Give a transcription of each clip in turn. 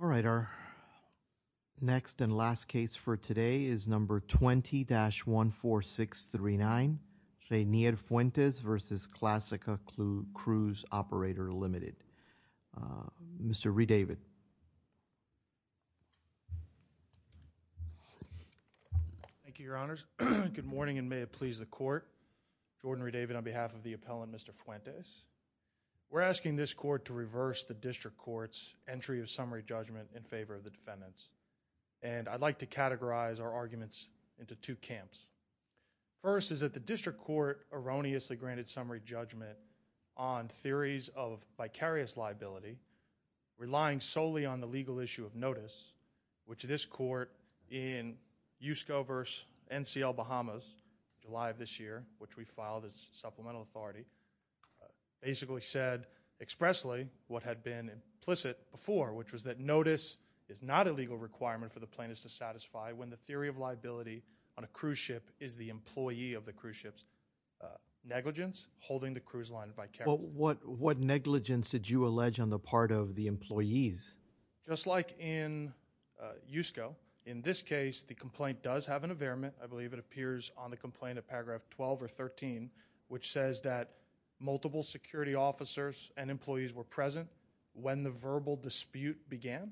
All right, our next and last case for today is number 20-14639, Reiner Fuentes v. Classica Cruise Operator LTD., Mr. Redavid. Thank you, Your Honors. Good morning, and may it please the Court. I'm Jordan Redavid on behalf of the appellant, Mr. Fuentes. We're asking this Court to reverse the District Court's entry of summary judgment in favor of the defendants, and I'd like to categorize our arguments into two camps. First is that the District Court erroneously granted summary judgment on theories of vicarious liability, relying solely on the legal issue of notice, which this Court, in USCO v. NCL Bahamas, July of this year, which we filed as supplemental authority, basically said expressly what had been implicit before, which was that notice is not a legal requirement for the plaintiff to satisfy when the theory of liability on a cruise ship is the employee of the cruise ship's negligence, holding the cruise line vicarious. What negligence did you allege on the part of the employees? Just like in USCO, in this case, the complaint does have an availment, I believe it appears on the complaint of paragraph 12 or 13, which says that multiple security officers and employees were present when the verbal dispute began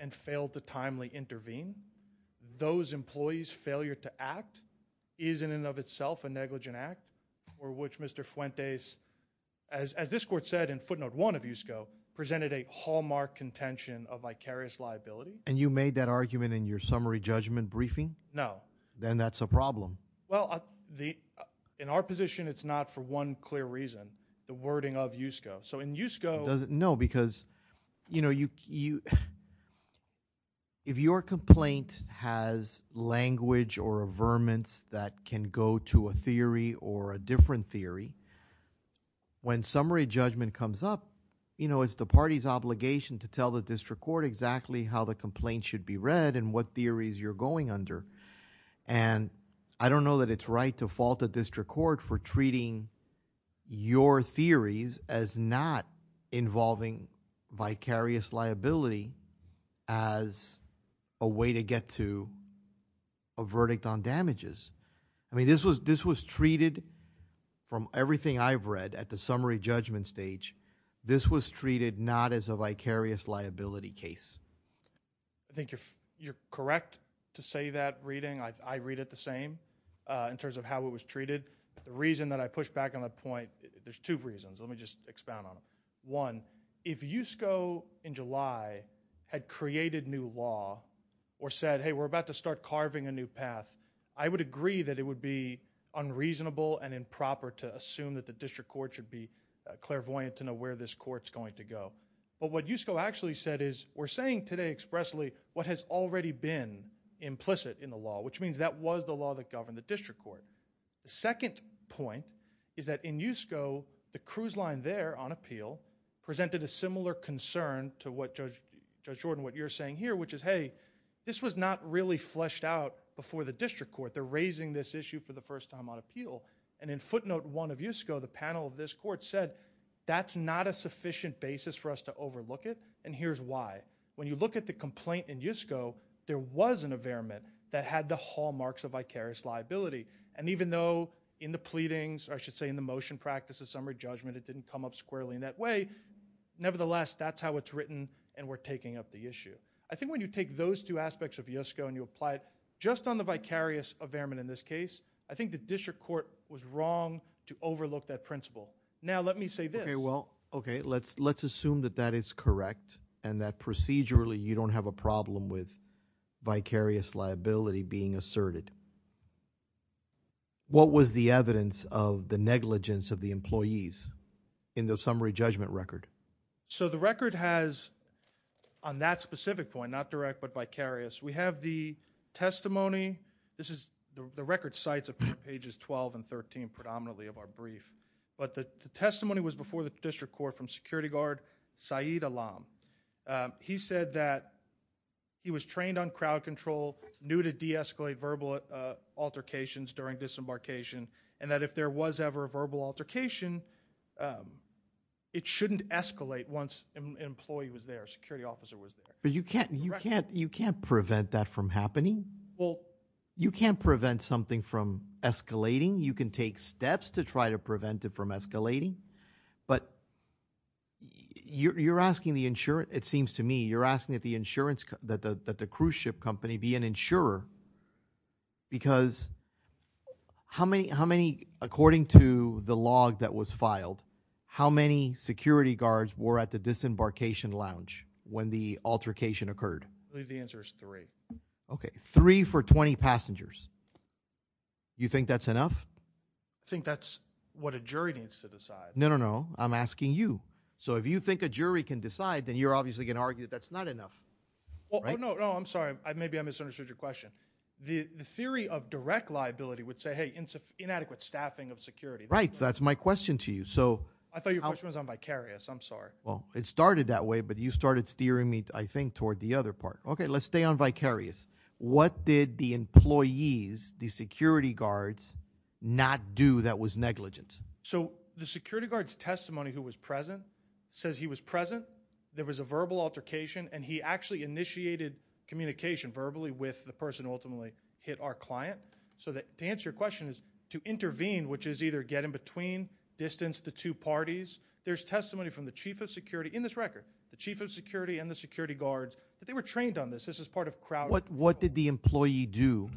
and failed to timely intervene. Those employees' failure to act is in and of itself a negligent act for which Mr. Fuentes, in this case, as this Court said in footnote one of USCO, presented a hallmark contention of vicarious liability. And you made that argument in your summary judgment briefing? No. Then that's a problem. Well, in our position, it's not for one clear reason, the wording of USCO. So in USCO- No, because if your complaint has language or a different theory, when summary judgment comes up, it's the party's obligation to tell the district court exactly how the complaint should be read and what theories you're going under. And I don't know that it's right to fault the district court for treating your theories as not involving vicarious liability as a way to get to a verdict on damages. I mean, this was treated from everything I've read at the summary judgment stage. This was treated not as a vicarious liability case. I think you're correct to say that reading. I read it the same in terms of how it was treated. The reason that I push back on that point, there's two reasons. Let me just expound on them. One, if USCO in July had created new law or said, hey, we're about to start carving a new path. I would agree that it would be unreasonable and improper to assume that the district court should be clairvoyant to know where this court's going to go, but what USCO actually said is, we're saying today expressly what has already been implicit in the law, which means that was the law that governed the district court. The second point is that in USCO, the cruise line there on appeal presented a similar concern to what Judge Jordan, what you're saying here, which is, hey, this was not really fleshed out before the district court. They're raising this issue for the first time on appeal. And in footnote one of USCO, the panel of this court said, that's not a sufficient basis for us to overlook it, and here's why. When you look at the complaint in USCO, there was an affairment that had the hallmarks of vicarious liability. And even though in the pleadings, or I should say in the motion practices summary judgment, it didn't come up squarely in that way. Nevertheless, that's how it's written, and we're taking up the issue. I think when you take those two aspects of USCO and you apply it, just on the vicarious affairment in this case, I think the district court was wrong to overlook that principle. Now, let me say this. Okay, well, okay, let's assume that that is correct, and that procedurally, you don't have a problem with vicarious liability being asserted. What was the evidence of the negligence of the employees in the summary judgment record? So the record has, on that specific point, not direct but vicarious, we have the testimony, this is the record sites of pages 12 and 13, predominantly of our brief. But the testimony was before the district court from security guard Saeed Alam. He said that he was trained on crowd control, knew to deescalate verbal altercations during disembarkation, and that if there was ever a verbal altercation, it shouldn't escalate once an employee was there, a security officer was there. But you can't prevent that from happening. Well, you can't prevent something from escalating. You can take steps to try to prevent it from escalating. But you're asking the insurer, it seems to me, you're asking that the cruise ship company be an insurer. Because how many, according to the log that was filed, how many security guards were at the disembarkation lounge when the altercation occurred? I believe the answer is three. Okay, three for 20 passengers. You think that's enough? I think that's what a jury needs to decide. No, no, no, I'm asking you. So if you think a jury can decide, then you're obviously going to argue that that's not enough, right? No, no, no, I'm sorry, maybe I misunderstood your question. The theory of direct liability would say, hey, inadequate staffing of security. Right, so that's my question to you. So- I thought your question was on vicarious, I'm sorry. Well, it started that way, but you started steering me, I think, toward the other part. Okay, let's stay on vicarious. What did the employees, the security guards, not do that was negligent? So the security guard's testimony who was present says he was present. There was a verbal altercation, and he actually initiated communication verbally with the person who ultimately hit our client. So to answer your question is to intervene, which is either get in between, distance the two parties. There's testimony from the chief of security, in this record, the chief of security and the security guards, that they were trained on this. This is part of crowd control. What did the employee do?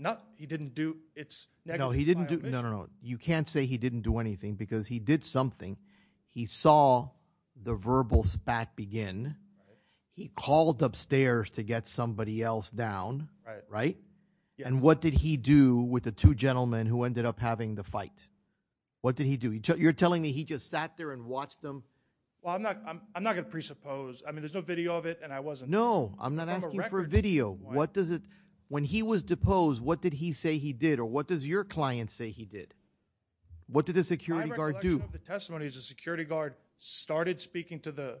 Not, he didn't do, it's negative. No, he didn't do, no, no, no. You can't say he didn't do anything, because he did something. He saw the verbal spat begin. He called upstairs to get somebody else down, right? And what did he do with the two gentlemen who ended up having the fight? What did he do? You're telling me he just sat there and watched them? Well, I'm not going to presuppose. I mean, there's no video of it, and I wasn't- No, I'm not asking for a video. What does it, when he was deposed, what did he say he did, or what does your client say he did? What did the security guard do? One of the testimonies, the security guard started speaking to the,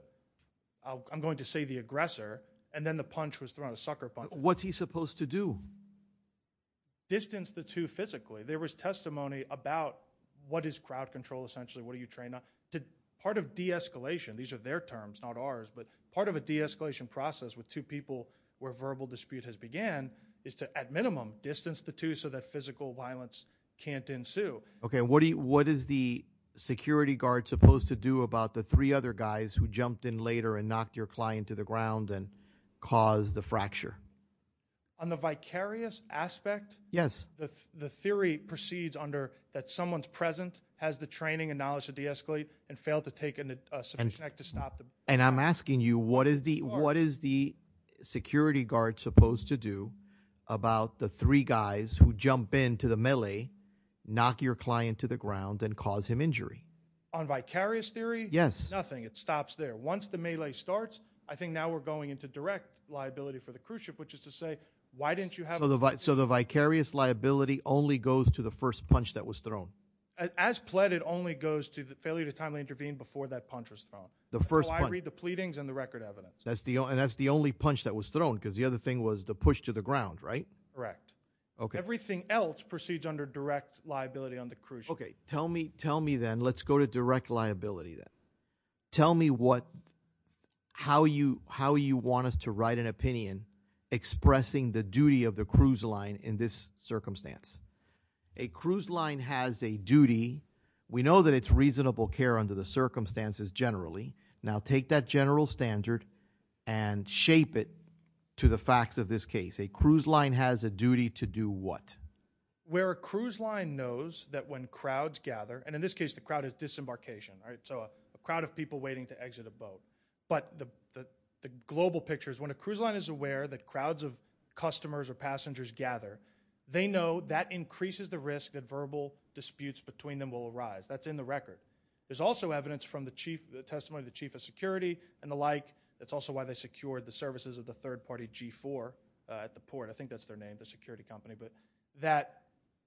I'm going to say the aggressor, and then the punch was thrown, a sucker punch. What's he supposed to do? Distance the two physically. There was testimony about what is crowd control, essentially, what are you trained on? Part of de-escalation, these are their terms, not ours, but part of a de-escalation process with two people where verbal dispute has began, is to, at minimum, distance the two so that physical violence can't ensue. Okay, what is the security guard supposed to do about the three other guys who jumped in later and knocked your client to the ground and caused the fracture? On the vicarious aspect? Yes. The theory proceeds under that someone's present, has the training and knowledge to de-escalate, and failed to take a subject to stop them. And I'm asking you, what is the security guard supposed to do about the three guys who jump into the melee, knock your client to the ground, and cause him injury? On vicarious theory? Yes. Nothing. It stops there. Once the melee starts, I think now we're going into direct liability for the cruise ship, which is to say, why didn't you have- So the vicarious liability only goes to the first punch that was thrown. As pleaded, only goes to the failure to timely intervene before that punch was thrown. The first punch. So I read the pleadings and the record evidence. And that's the only punch that was thrown, because the other thing was the push to the ground, right? Correct. Okay. Everything else proceeds under direct liability on the cruise ship. Okay, tell me then, let's go to direct liability then. Tell me how you want us to write an opinion expressing the duty of the cruise line in this circumstance. A cruise line has a duty, we know that it's reasonable care under the circumstances generally. Now take that general standard and shape it to the facts of this case. A cruise line has a duty to do what? Where a cruise line knows that when crowds gather, and in this case the crowd is disembarkation, right? So a crowd of people waiting to exit a boat. But the global picture is when a cruise line is aware that crowds of customers or passengers gather, they know that increases the risk that verbal disputes between them will arise. That's in the record. There's also evidence from the testimony of the chief of security and the like. It's also why they secured the services of the third party G4 at the port. I think that's their name, the security company. But that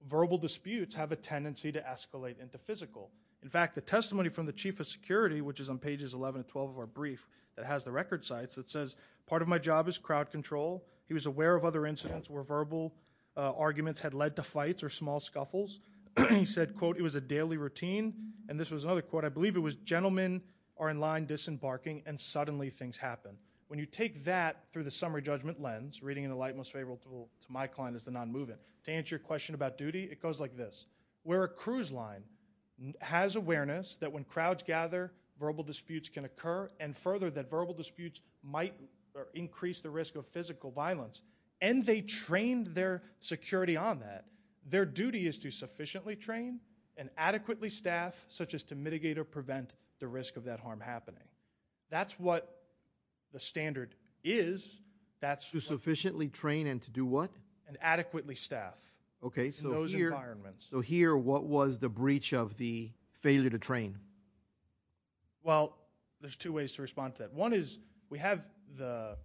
verbal disputes have a tendency to escalate into physical. In fact, the testimony from the chief of security, which is on pages 11 and 12 of our brief, that has the record sites. It says, part of my job is crowd control. He was aware of other incidents where verbal arguments had led to fights or small scuffles. He said, quote, it was a daily routine. And this was another quote, I believe it was, gentlemen are in line disembarking and suddenly things happen. When you take that through the summary judgment lens, reading in the light most favorable to my client as the non-movement. To answer your question about duty, it goes like this. Where a cruise line has awareness that when crowds gather, verbal disputes can occur. And further, that verbal disputes might increase the risk of physical violence. And they trained their security on that. Their duty is to sufficiently train and adequately staff, such as to mitigate or prevent the risk of that harm happening. That's what the standard is. That's- To sufficiently train and to do what? And adequately staff. Okay, so here- In those environments. So here, what was the breach of the failure to train? Well, there's two ways to respond to that. One is, we have the,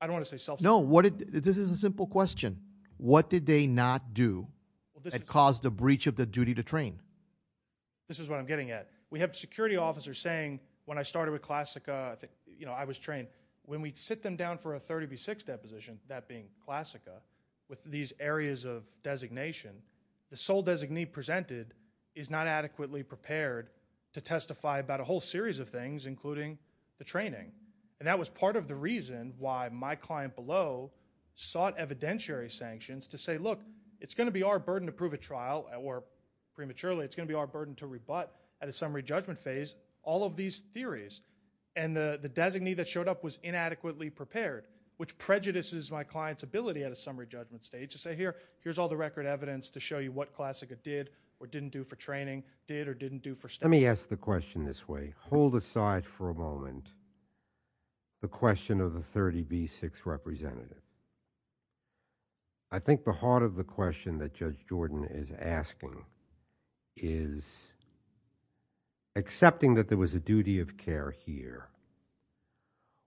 I don't want to say self- No, this is a simple question. What did they not do that caused the breach of the duty to train? This is what I'm getting at. We have security officers saying, when I started with Classica, I was trained. When we sit them down for a 30 v 6 deposition, that being Classica, with these areas of designation, the sole designee presented is not adequately prepared to testify about a whole series of things, including the training. And that was part of the reason why my client below sought evidentiary sanctions to say, look, it's going to be our burden to prove a trial, or prematurely, it's going to be our burden to rebut at a summary judgment phase all of these theories. And the designee that showed up was inadequately prepared, which prejudices my client's ability at a summary judgment stage to say, here, here's all the record evidence to show you what Classica did or didn't do for training, did or didn't do for staff. Let me ask the question this way. Hold aside for a moment the question of the 30 v 6 representative. I think the heart of the question that Judge Jordan is asking is, accepting that there was a duty of care here,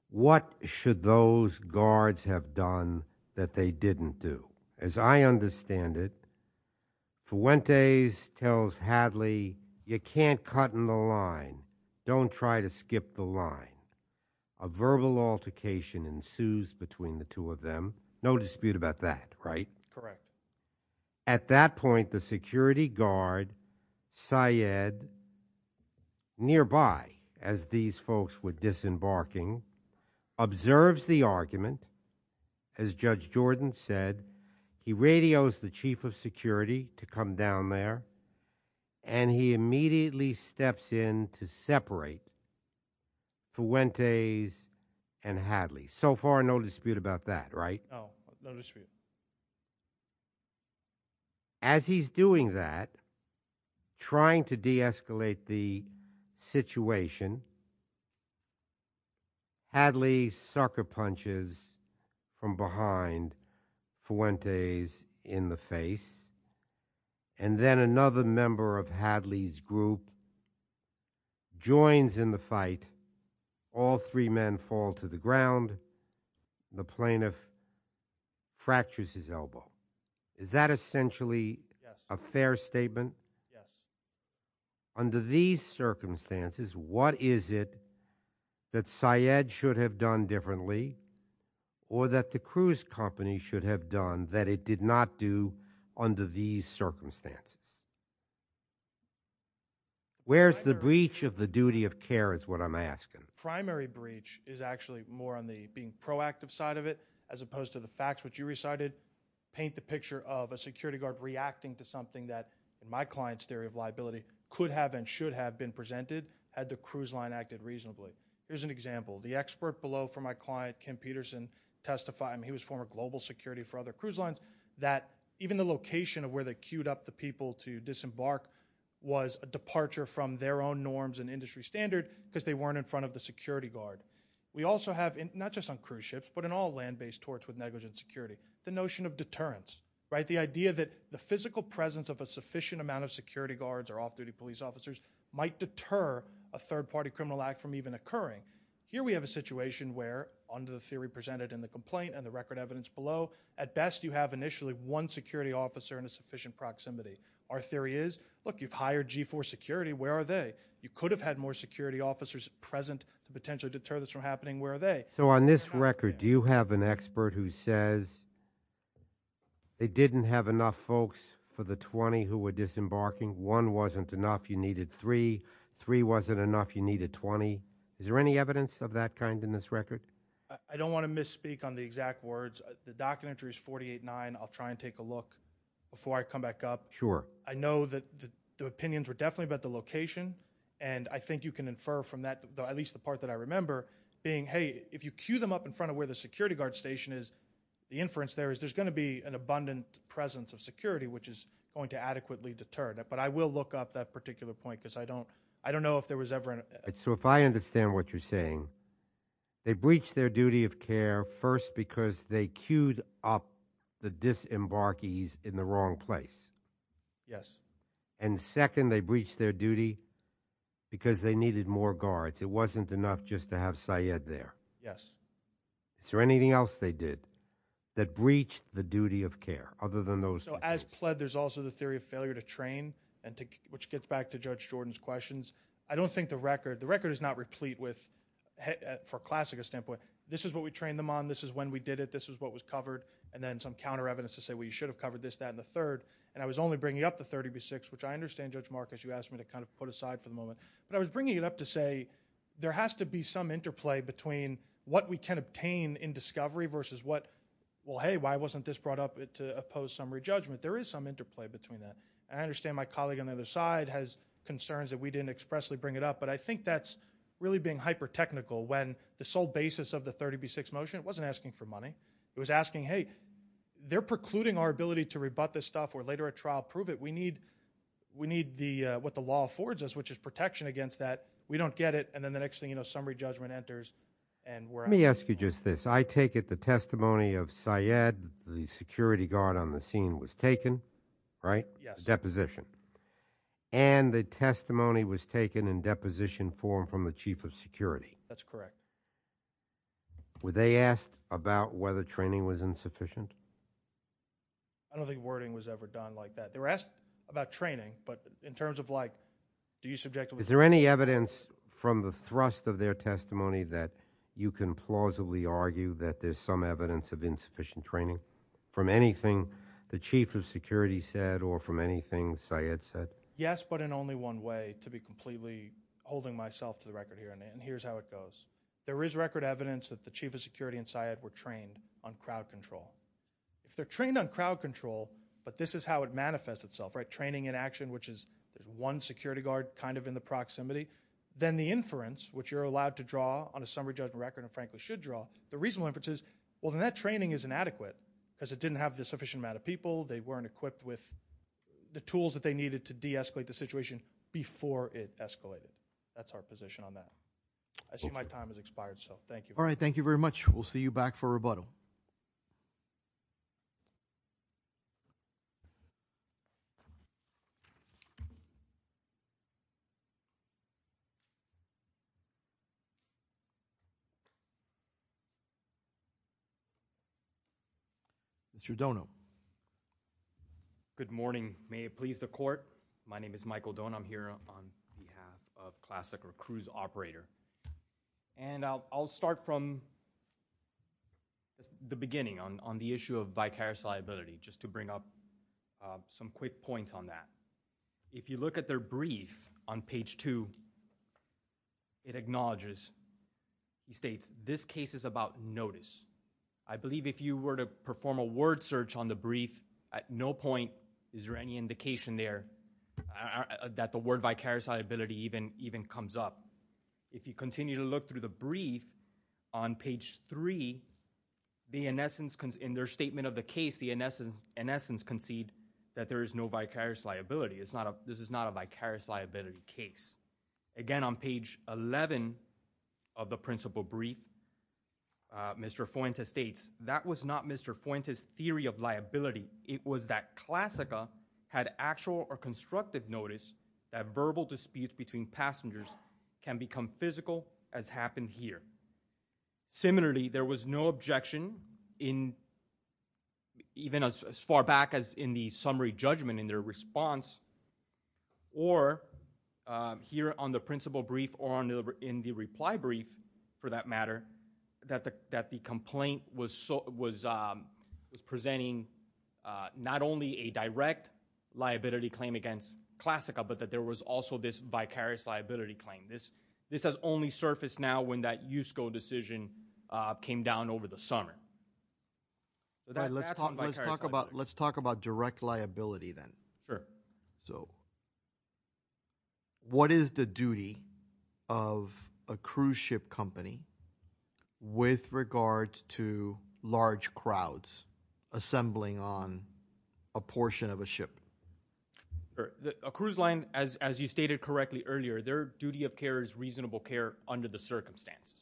what should those guards have done that they didn't do? As I understand it, Fuentes tells Hadley, you can't cut in the line, don't try to skip the line. A verbal altercation ensues between the two of them, no dispute about that, right? Correct. At that point, the security guard, Syed, nearby, as these folks were disembarking, observes the argument. As Judge Jordan said, he radios the chief of security to come down there, and he immediately steps in to separate Fuentes and Hadley. So far, no dispute about that, right? No, no dispute. As he's doing that, trying to de-escalate the situation, Hadley sucker punches from behind Fuentes in the face. And then another member of Hadley's group joins in the fight. All three men fall to the ground, the plaintiff fractures his elbow. Is that essentially a fair statement? Under these circumstances, what is it that Syed should have done differently, or that the cruise company should have done that it did not do under these circumstances? Where's the breach of the duty of care is what I'm asking. Primary breach is actually more on the being proactive side of it, as opposed to the facts which you recited. Paint the picture of a security guard reacting to something that, in my client's theory of liability, could have and should have been presented had the cruise line acted reasonably. Here's an example. The expert below for my client, Kim Peterson, testified, and he was former global security for other cruise lines, that even the location of where they queued up the people to disembark was a departure from their own norms and industry standard, because they weren't in front of the security guard. We also have, not just on cruise ships, but in all land-based torts with negligent security, the notion of deterrence, right? The idea that the physical presence of a sufficient amount of security guards or deter a third party criminal act from even occurring. Here we have a situation where, under the theory presented in the complaint and the record evidence below, at best you have initially one security officer in a sufficient proximity. Our theory is, look, you've hired G4 security, where are they? You could have had more security officers present to potentially deter this from happening, where are they? So on this record, do you have an expert who says they didn't have enough folks for the 20 who were disembarking, one wasn't enough, you needed three, three wasn't enough, you needed 20? Is there any evidence of that kind in this record? I don't want to misspeak on the exact words. The documentary is 48-9, I'll try and take a look before I come back up. Sure. I know that the opinions were definitely about the location, and I think you can infer from that, at least the part that I remember, being, hey, if you queue them up in front of where the security guard station is, the inference there is there's going to be an abundant presence of security which is going to adequately deter that. But I will look up that particular point, because I don't know if there was ever an- So if I understand what you're saying, they breached their duty of care, first because they queued up the disembarkees in the wrong place. Yes. And second, they breached their duty because they needed more guards. It wasn't enough just to have Syed there. Yes. Is there anything else they did that breached the duty of care, other than those- So as pled, there's also the theory of failure to train, which gets back to Judge Jordan's questions. I don't think the record, the record is not replete with, for a classicist standpoint, this is what we trained them on, this is when we did it, this is what was covered. And then some counter evidence to say, well, you should have covered this, that, and the third. And I was only bringing up the 30 v. 6, which I understand, Judge Marcus, you asked me to kind of put aside for the moment. But I was bringing it up to say, there has to be some interplay between what we can obtain in discovery versus what, well, hey, why wasn't this brought up to oppose summary judgment? There is some interplay between that. I understand my colleague on the other side has concerns that we didn't expressly bring it up. But I think that's really being hyper-technical when the sole basis of the 30 v. 6 motion, it wasn't asking for money. It was asking, hey, they're precluding our ability to rebut this stuff or later at trial prove it. So we need what the law affords us, which is protection against that. We don't get it, and then the next thing, summary judgment enters, and we're out. Let me ask you just this. I take it the testimony of Syed, the security guard on the scene, was taken, right? Yes. Deposition. And the testimony was taken in deposition form from the chief of security. That's correct. Were they asked about whether training was insufficient? I don't think wording was ever done like that. They were asked about training, but in terms of like, do you subjectively- Is there any evidence from the thrust of their testimony that you can plausibly argue that there's some evidence of insufficient training? From anything the chief of security said or from anything Syed said? Yes, but in only one way, to be completely holding myself to the record here, and here's how it goes. There is record evidence that the chief of security and Syed were trained on crowd control. If they're trained on crowd control, but this is how it manifests itself, right? Training in action, which is one security guard kind of in the proximity. Then the inference, which you're allowed to draw on a summary judgment record, and frankly should draw. The reasonable inference is, well, then that training is inadequate, because it didn't have the sufficient amount of people. They weren't equipped with the tools that they needed to de-escalate the situation before it escalated. That's our position on that. I see my time has expired, so thank you. All right, thank you very much. We'll see you back for rebuttal. Mr. Dono. Good morning, may it please the court. My name is Michael Dono, I'm here on behalf of Classic Recruits Operator. And I'll start from the beginning on the issue of vicarious liability, just to bring up some quick points on that. If you look at their brief on page two, it acknowledges, it states, this case is about notice. I believe if you were to perform a word search on the brief, at no point is there any indication there that the word vicarious liability even comes up. If you continue to look through the brief on page three, in their statement of the case, the in essence concede that there is no vicarious liability, this is not a vicarious liability case. Again, on page 11 of the principal brief, Mr. Fuentes states, that was not Mr. Fuentes' theory of liability, it was that Classica had actual or can become physical as happened here. Similarly, there was no objection in, even as far back as in the summary judgment in their response. Or here on the principal brief or in the reply brief, for that matter, that the complaint was presenting not only a direct liability claim against Classica, but that there was also this vicarious liability claim. This has only surfaced now when that USCO decision came down over the summer. That's on vicarious liability. Let's talk about direct liability then. Sure. So, what is the duty of a cruise ship company with regards to large crowds assembling on a portion of a ship? A cruise line, as you stated correctly earlier, their duty of care is reasonable care under the circumstances.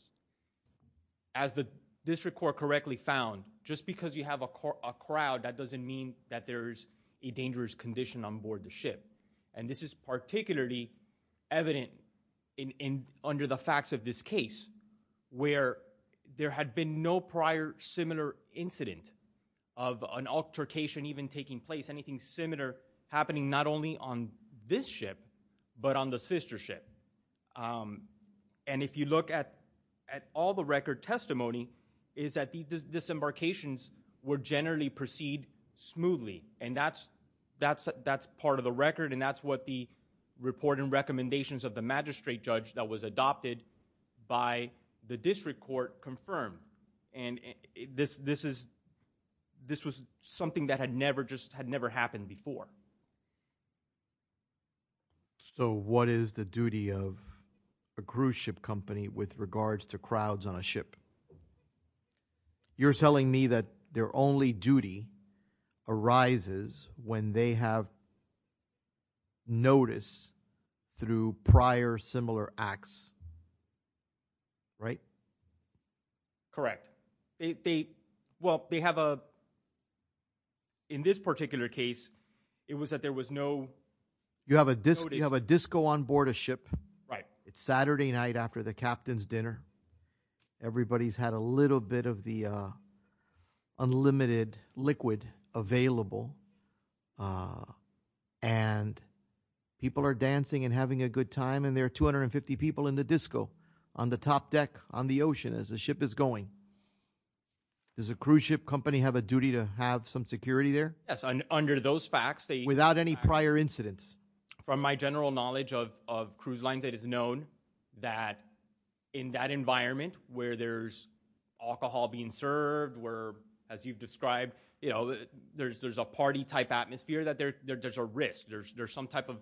As the district court correctly found, just because you have a crowd, that doesn't mean that there's a dangerous condition on board the ship. And this is particularly evident under the facts of this case, where there had been no prior similar incident of an altercation even taking place. Anything similar happening not only on this ship, but on the sister ship. And if you look at all the record testimony, is that these disembarkations would generally proceed smoothly. And that's part of the record, and that's what the reporting recommendations of the magistrate judge that was adopted by the district court confirmed. And this was something that had never happened before. So what is the duty of a cruise ship company with regards to crowds on a ship? You're telling me that their only duty arises when they have notice through prior similar acts, right? That's correct. They, well, they have a, in this particular case, it was that there was no. You have a disco on board a ship. Right. It's Saturday night after the captain's dinner. Everybody's had a little bit of the unlimited liquid available. And people are dancing and having a good time, and there are 250 people in the disco on the top deck on the ocean as the ship is going. Does a cruise ship company have a duty to have some security there? Yes, under those facts, they- Without any prior incidents. From my general knowledge of cruise lines, it is known that in that environment where there's alcohol being served, where, as you've described, there's a party type atmosphere that there's a risk. There's some type of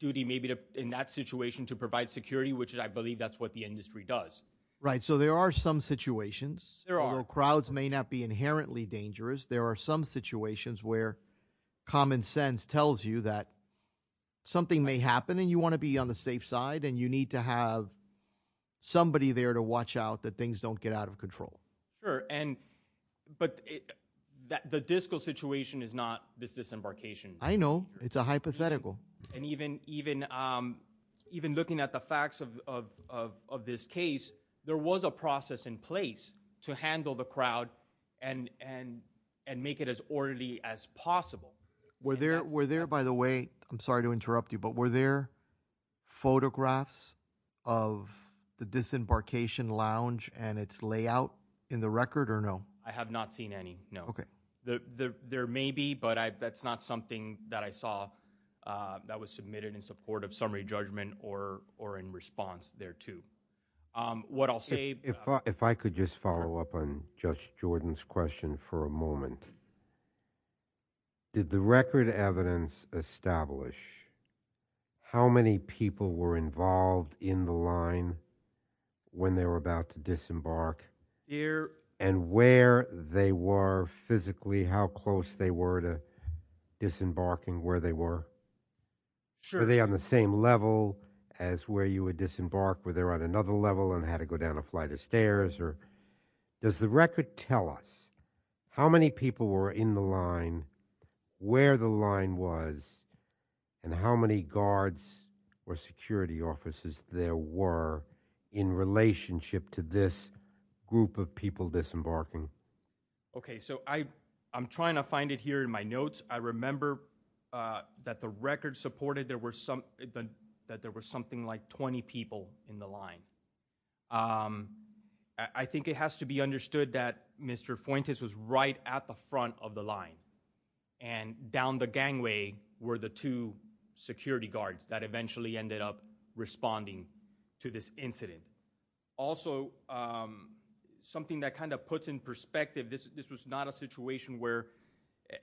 duty maybe in that situation to provide security, which I believe that's what the industry does. Right, so there are some situations where crowds may not be inherently dangerous. There are some situations where common sense tells you that something may happen, and you want to be on the safe side, and you need to have somebody there to watch out that things don't get out of control. Sure, but the disco situation is not this disembarkation. I know, it's a hypothetical. And even looking at the facts of this case, there was a process in place to handle the crowd and make it as orderly as possible. Were there, by the way, I'm sorry to interrupt you, but were there photographs of the disembarkation lounge and its layout in the record or no? I have not seen any, no. Okay. There may be, but that's not something that I saw that was submitted in support of summary judgment or in response thereto. What I'll say- If I could just follow up on Judge Jordan's question for a moment. Did the record evidence establish how many people were involved in the line when they were about to disembark? Here. And where they were physically, how close they were to disembarking where they were? Sure. Were they on the same level as where you would disembark? Were they on another level and had to go down a flight of stairs? Or does the record tell us how many people were in the line, where the line was, and how many guards or security officers there were in relationship to this group of people disembarking? Okay, so I'm trying to find it here in my notes. I remember that the record supported that there were something like 20 people in the line. I think it has to be understood that Mr. Fuentes was right at the front of the line. And down the gangway were the two security guards that eventually ended up responding to this incident. Also, something that kind of puts in perspective, this was not a situation where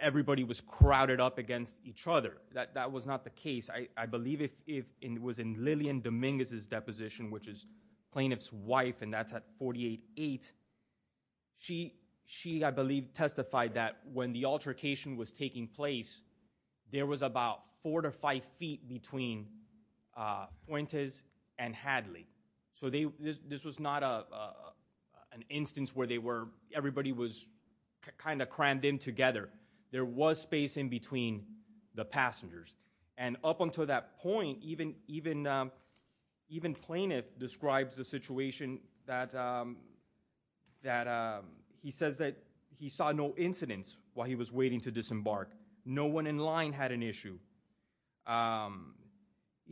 everybody was crowded up against each other. That was not the case. I believe it was in Lillian Dominguez's deposition, which is plaintiff's wife, and that's at 48-8. She, I believe, testified that when the altercation was taking place, there was about four to five feet between Fuentes and Hadley. So this was not an instance where everybody was kind of crammed in together. There was space in between the passengers. And up until that point, even plaintiff describes the situation that he says that he saw no incidents while he was waiting to disembark. No one in line had an issue.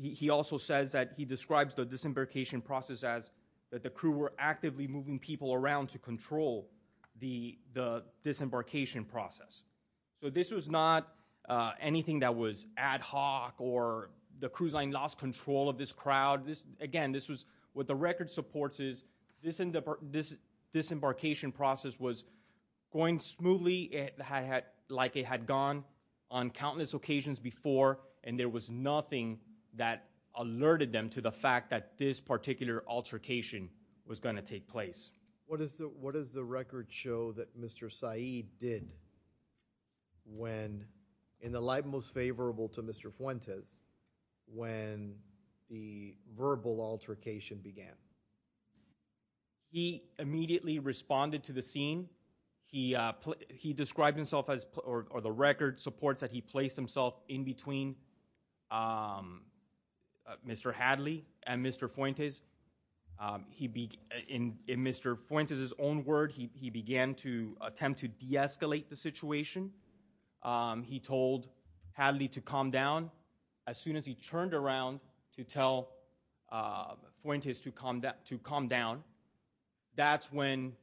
He also says that he describes the disembarkation process as that the crew were actively moving people around to control the disembarkation process. So this was not anything that was ad hoc or the cruise line lost control of this crowd. Again, what the record supports is this disembarkation process was going smoothly like it had gone on countless occasions before. And there was nothing that alerted them to the fact that this particular altercation was gonna take place. What does the record show that Mr. Saeed did when, in the light most favorable to Mr. Fuentes, when the verbal altercation began? He immediately responded to the scene. He described himself as, or the record supports that he placed himself in between Mr. Hadley and Mr. Fuentes. In Mr. Fuentes' own word, he began to attempt to de-escalate the situation. He told Hadley to calm down. As soon as he turned around to tell Fuentes to calm down, that's when,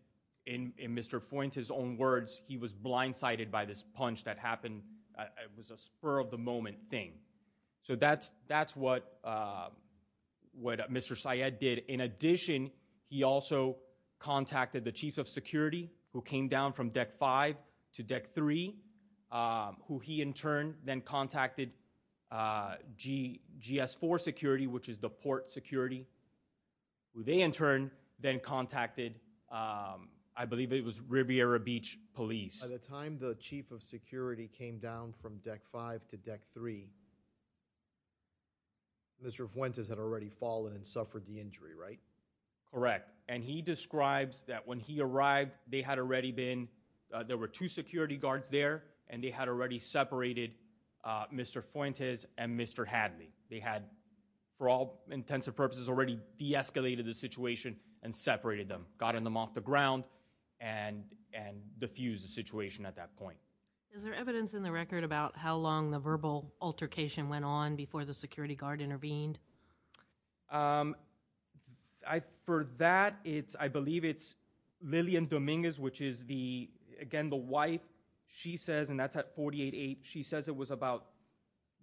in Mr. Fuentes' own words, he was blindsided by this punch that happened. It was a spur of the moment thing. So that's what Mr. Saeed did. In addition, he also contacted the Chiefs of Security, who came down from Deck 5 to Deck 3, who he, in turn, then contacted GS4 Security, which is the port security. Who they, in turn, then contacted, I believe it was Riviera Beach Police. By the time the Chief of Security came down from Deck 5 to Deck 3, Mr. Fuentes had already fallen and suffered the injury, right? Correct, and he describes that when he arrived, they had already been, there were two security guards there, and they had already separated Mr. Fuentes and Mr. Hadley. They had, for all intents and purposes, already de-escalated the situation and separated them, gotten them off the ground, and diffused the situation at that point. Is there evidence in the record about how long the verbal altercation went on before the security guard intervened? For that, I believe it's Lillian Dominguez, which is the, again, the wife. She says, and that's at 48-8, she says it was about,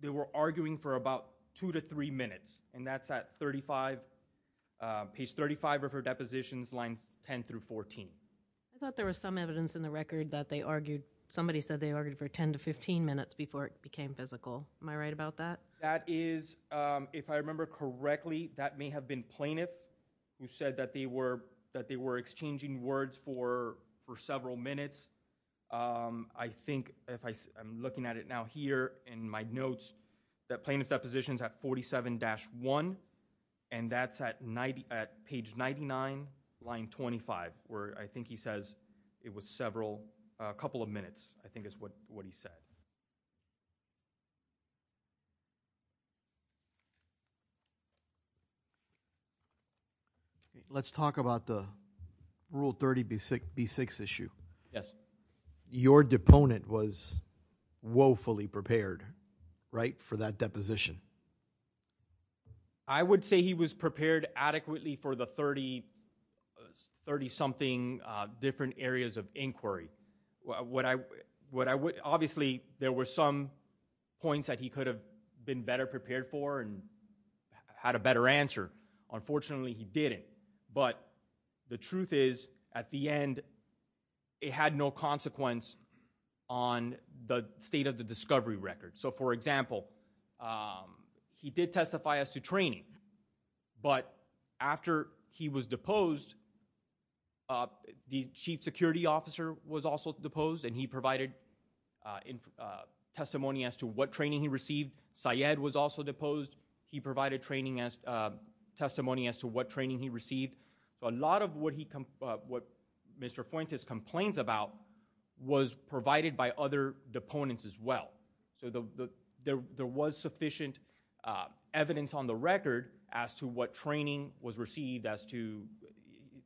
they were arguing for about two to three minutes. And that's at 35, page 35 of her depositions, lines 10 through 14. I thought there was some evidence in the record that they argued, somebody said they argued for 10 to 15 minutes before it became physical. Am I right about that? That is, if I remember correctly, that may have been Plaintiff, who said that they were exchanging words for several minutes. That plaintiff's depositions at 47-1, and that's at page 99, line 25, where I think he says it was several, a couple of minutes, I think is what he said. Let's talk about the Rule 30B6 issue. Yes. Your deponent was woefully prepared, right, for that deposition. I would say he was prepared adequately for the 30 something different areas of inquiry. Obviously, there were some points that he could have been better prepared for and had a better answer, unfortunately he didn't. But the truth is, at the end, it had no consequence on the state of the discovery record. So for example, he did testify as to training, but after he was deposed, the chief security officer was also deposed and he provided testimony as to what training he received. Syed was also deposed. He provided testimony as to what training he received. A lot of what Mr. Fuentes complains about was provided by other deponents as well. So there was sufficient evidence on the record as to what training was received, as to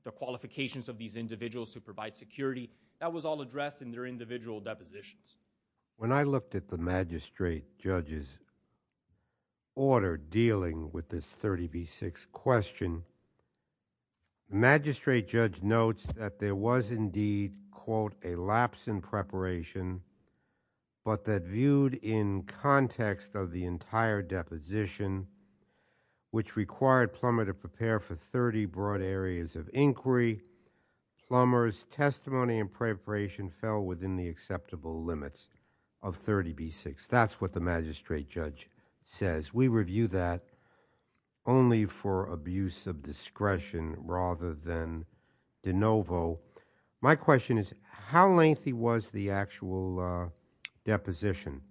the qualifications of these individuals to provide security. That was all addressed in their individual depositions. When I looked at the magistrate judge's order dealing with this 30B6 question, the magistrate judge notes that there was indeed, quote, a lapse in preparation, but that viewed in context of the entire deposition, which required Plummer to prepare for 30 broad areas of inquiry, Plummer's testimony and preparation fell within the acceptable limits of 30B6. That's what the magistrate judge says. We review that only for abuse of discretion rather than de novo. My question is, how lengthy was the actual deposition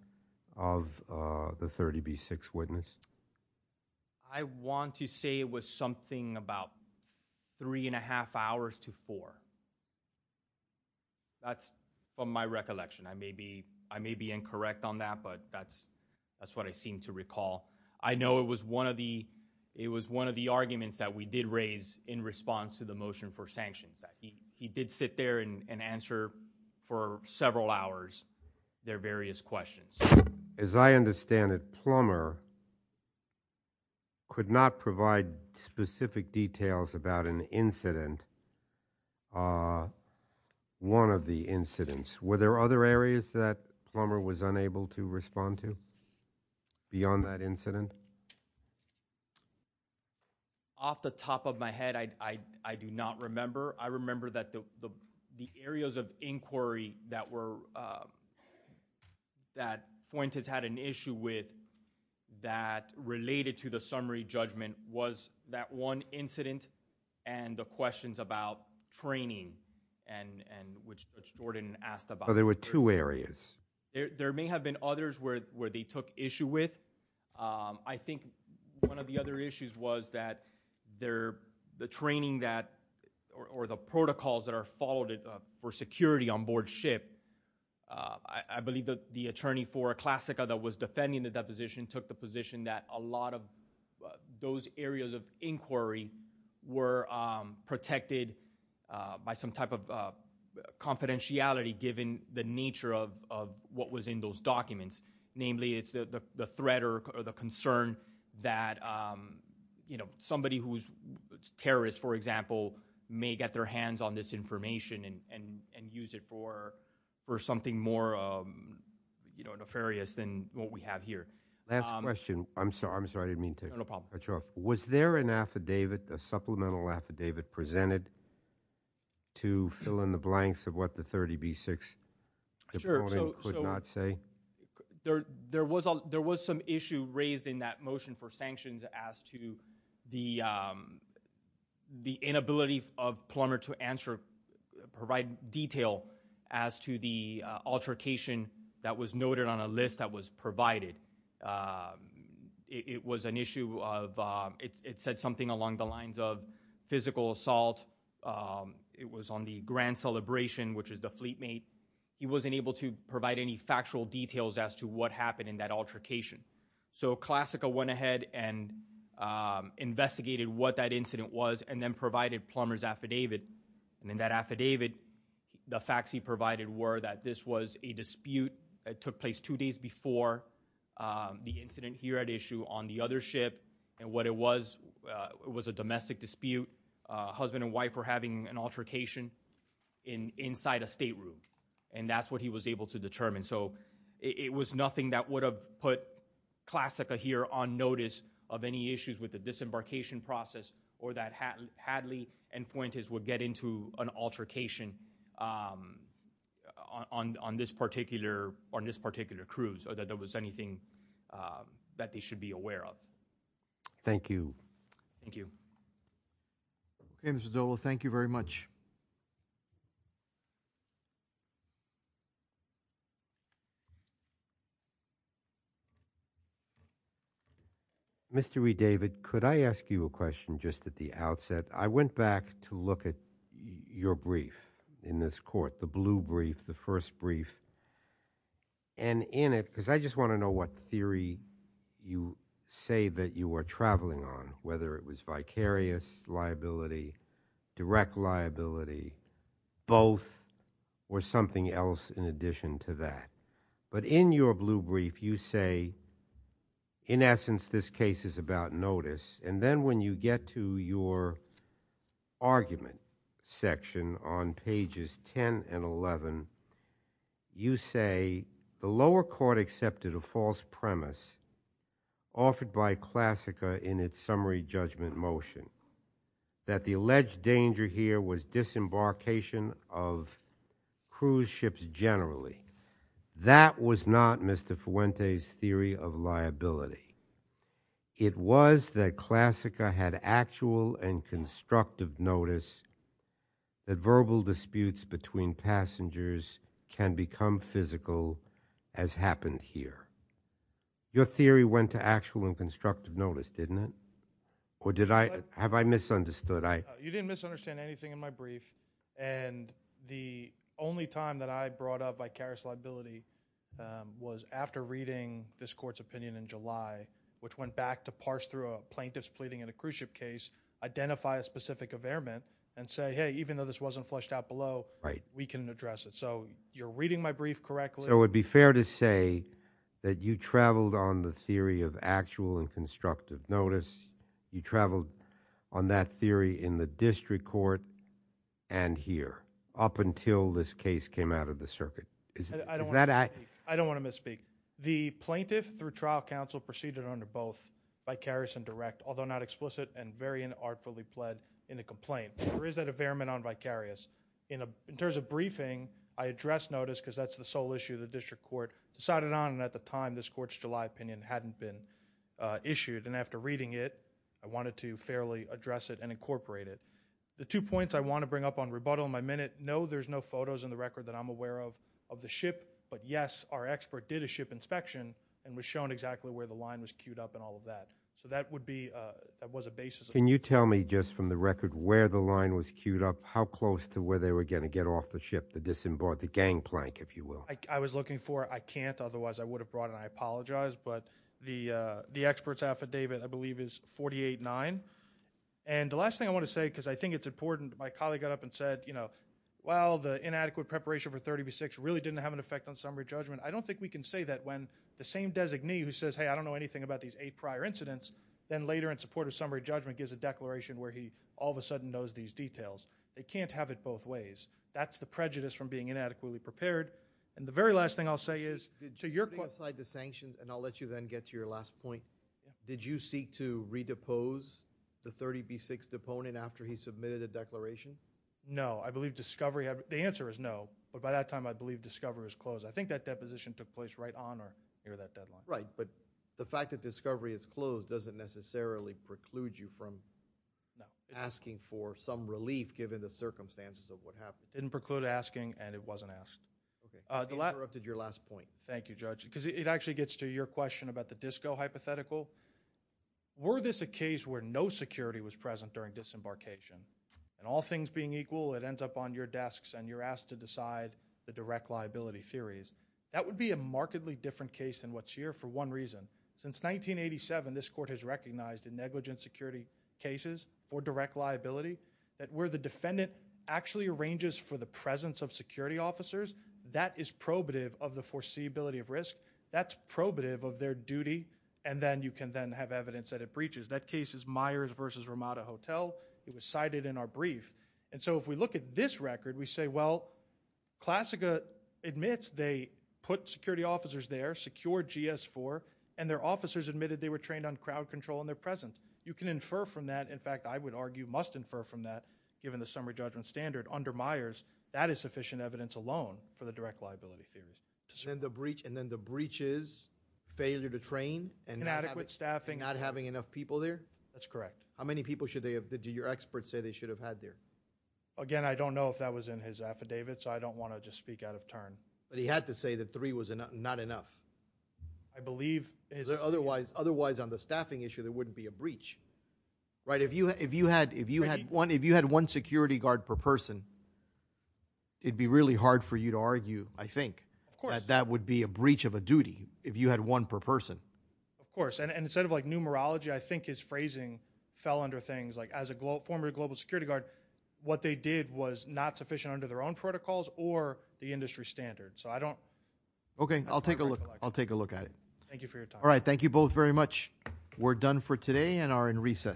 of the 30B6 witness? I want to say it was something about three and a half hours to four. That's from my recollection. I may be incorrect on that, but that's what I seem to recall. I know it was one of the arguments that we did raise in response to the motion for sanctions, that he did sit there and answer for several hours their various questions. As I understand it, Plummer could not provide specific details about an incident. One of the incidents. Were there other areas that Plummer was unable to respond to beyond that incident? Off the top of my head, I do not remember. I remember that the areas of inquiry that Fuentes had an issue with that related to the summary judgment was that one incident and the questions about training, which Jordan asked about. So there were two areas. There may have been others where they took issue with. I think one of the other issues was that the training that, or the protocols that are followed for security on board ship, I believe that the attorney for a classica that was defending the deposition took the position that a lot of those areas of inquiry were protected by some type of confidentiality, given the nature of what was in those documents. Namely, it's the threat or the concern that somebody who's terrorist, for example, may get their hands on this information and use it for something more nefarious than what we have here. Last question. I'm sorry, I didn't mean to cut you off. Was there an affidavit, a supplemental affidavit, presented to fill in the blanks of what the 30B6 could not say? There was some issue raised in that motion for sanctions as to the inability of plumber to provide detail as to the altercation that was noted on a list that was provided. It was an issue of, it said something along the lines of physical assault. It was on the grand celebration, which is the fleet mate. He wasn't able to provide any factual details as to what happened in that altercation. So classica went ahead and investigated what that incident was and then provided plumber's affidavit. And in that affidavit, the facts he provided were that this was a dispute. It took place two days before the incident here at issue on the other ship. And what it was, it was a domestic dispute. Husband and wife were having an altercation inside a state room. And that's what he was able to determine. So it was nothing that would have put classica here on notice of any issues with the disembarkation process. Or that Hadley and Fuentes would get into an altercation on this particular cruise. Or that there was anything that they should be aware of. Thank you. Thank you. Okay, Mr. Dovo, thank you very much. Mr. E. David, could I ask you a question just at the outset? I went back to look at your brief in this court, the blue brief, the first brief. And in it, because I just want to know what theory you say that you were traveling on. Whether it was vicarious liability, direct liability, both, or something else in addition to that. But in your blue brief, you say, in essence, this case is about notice. And then when you get to your argument section on pages 10 and 11. You say, the lower court accepted a false premise offered by classica in its summary judgment motion. That the alleged danger here was disembarkation of cruise ships generally. That was not Mr. Fuentes' theory of liability. It was that classica had actual and constructive notice. That verbal disputes between passengers can become physical, as happened here. Your theory went to actual and constructive notice, didn't it? Or did I, have I misunderstood? You didn't misunderstand anything in my brief. And the only time that I brought up vicarious liability was after reading this court's opinion in July. Which went back to parse through a plaintiff's pleading in a cruise ship case. Identify a specific affairment and say, hey, even though this wasn't flushed out below, we can address it. So you're reading my brief correctly? So it would be fair to say that you traveled on the theory of actual and constructive notice. You traveled on that theory in the district court and here. Up until this case came out of the circuit. Is that I- I don't want to misspeak. The plaintiff through trial counsel proceeded under both vicarious and direct. Although not explicit and very inartfully pled in a complaint. There is that affairment on vicarious. In terms of briefing, I address notice because that's the sole issue of the district court. Decided on, and at the time, this court's July opinion hadn't been issued. And after reading it, I wanted to fairly address it and incorporate it. The two points I want to bring up on rebuttal in my minute. No, there's no photos in the record that I'm aware of, of the ship. But yes, our expert did a ship inspection and was shown exactly where the line was queued up and all of that. So that would be, that was a basis. Can you tell me just from the record where the line was queued up? How close to where they were going to get off the ship to disembark the gangplank, if you will? I was looking for, I can't, otherwise I would have brought it, and I apologize. But the expert's affidavit, I believe, is 48-9. And the last thing I want to say, because I think it's important, my colleague got up and said, well, the inadequate preparation for 30B6 really didn't have an effect on summary judgment. I don't think we can say that when the same designee who says, hey, I don't know anything about these eight prior incidents, then later in support of summary judgment gives a declaration where he all of a sudden knows these details. They can't have it both ways. That's the prejudice from being inadequately prepared. And the very last thing I'll say is, to your- Aside the sanctions, and I'll let you then get to your last point. Did you seek to redepose the 30B6 deponent after he submitted a declaration? No, I believe discovery, the answer is no. But by that time, I believe discovery was closed. I think that deposition took place right on or near that deadline. Right, but the fact that discovery is closed doesn't necessarily preclude you from asking for some relief given the circumstances of what happened. It didn't preclude asking, and it wasn't asked. Okay, I interrupted your last point. Thank you, Judge, because it actually gets to your question about the DISCO hypothetical. Were this a case where no security was present during disembarkation? And all things being equal, it ends up on your desks, and you're asked to decide the direct liability theories. That would be a markedly different case than what's here for one reason. Since 1987, this court has recognized in negligent security cases for direct liability, that where the defendant actually arranges for the presence of security officers, that is probative of the foreseeability of risk. That's probative of their duty, and then you can then have evidence that it breaches. That case is Myers versus Ramada Hotel. It was cited in our brief. And so if we look at this record, we say, well, Classica admits they put security officers there, secured GS4, and their officers admitted they were trained on crowd control and their presence. You can infer from that, in fact, I would argue, must infer from that, given the summary judgment standard under Myers, that is sufficient evidence alone for the direct liability theories. And then the breach is failure to train. And adequate staffing. Not having enough people there? That's correct. How many people should they have, did your expert say they should have had there? Again, I don't know if that was in his affidavit, so I don't want to just speak out of turn. But he had to say that three was not enough. I believe, otherwise on the staffing issue, there wouldn't be a breach, right? If you had one security guard per person, it'd be really hard for you to argue, I think, that that would be a breach of a duty, if you had one per person. Of course, and instead of numerology, I think his phrasing fell under things. As a former global security guard, what they did was not sufficient under their own protocols or the industry standard. So I don't. Okay, I'll take a look at it. Thank you for your time. All right, thank you both very much. We're done for today and are in recess.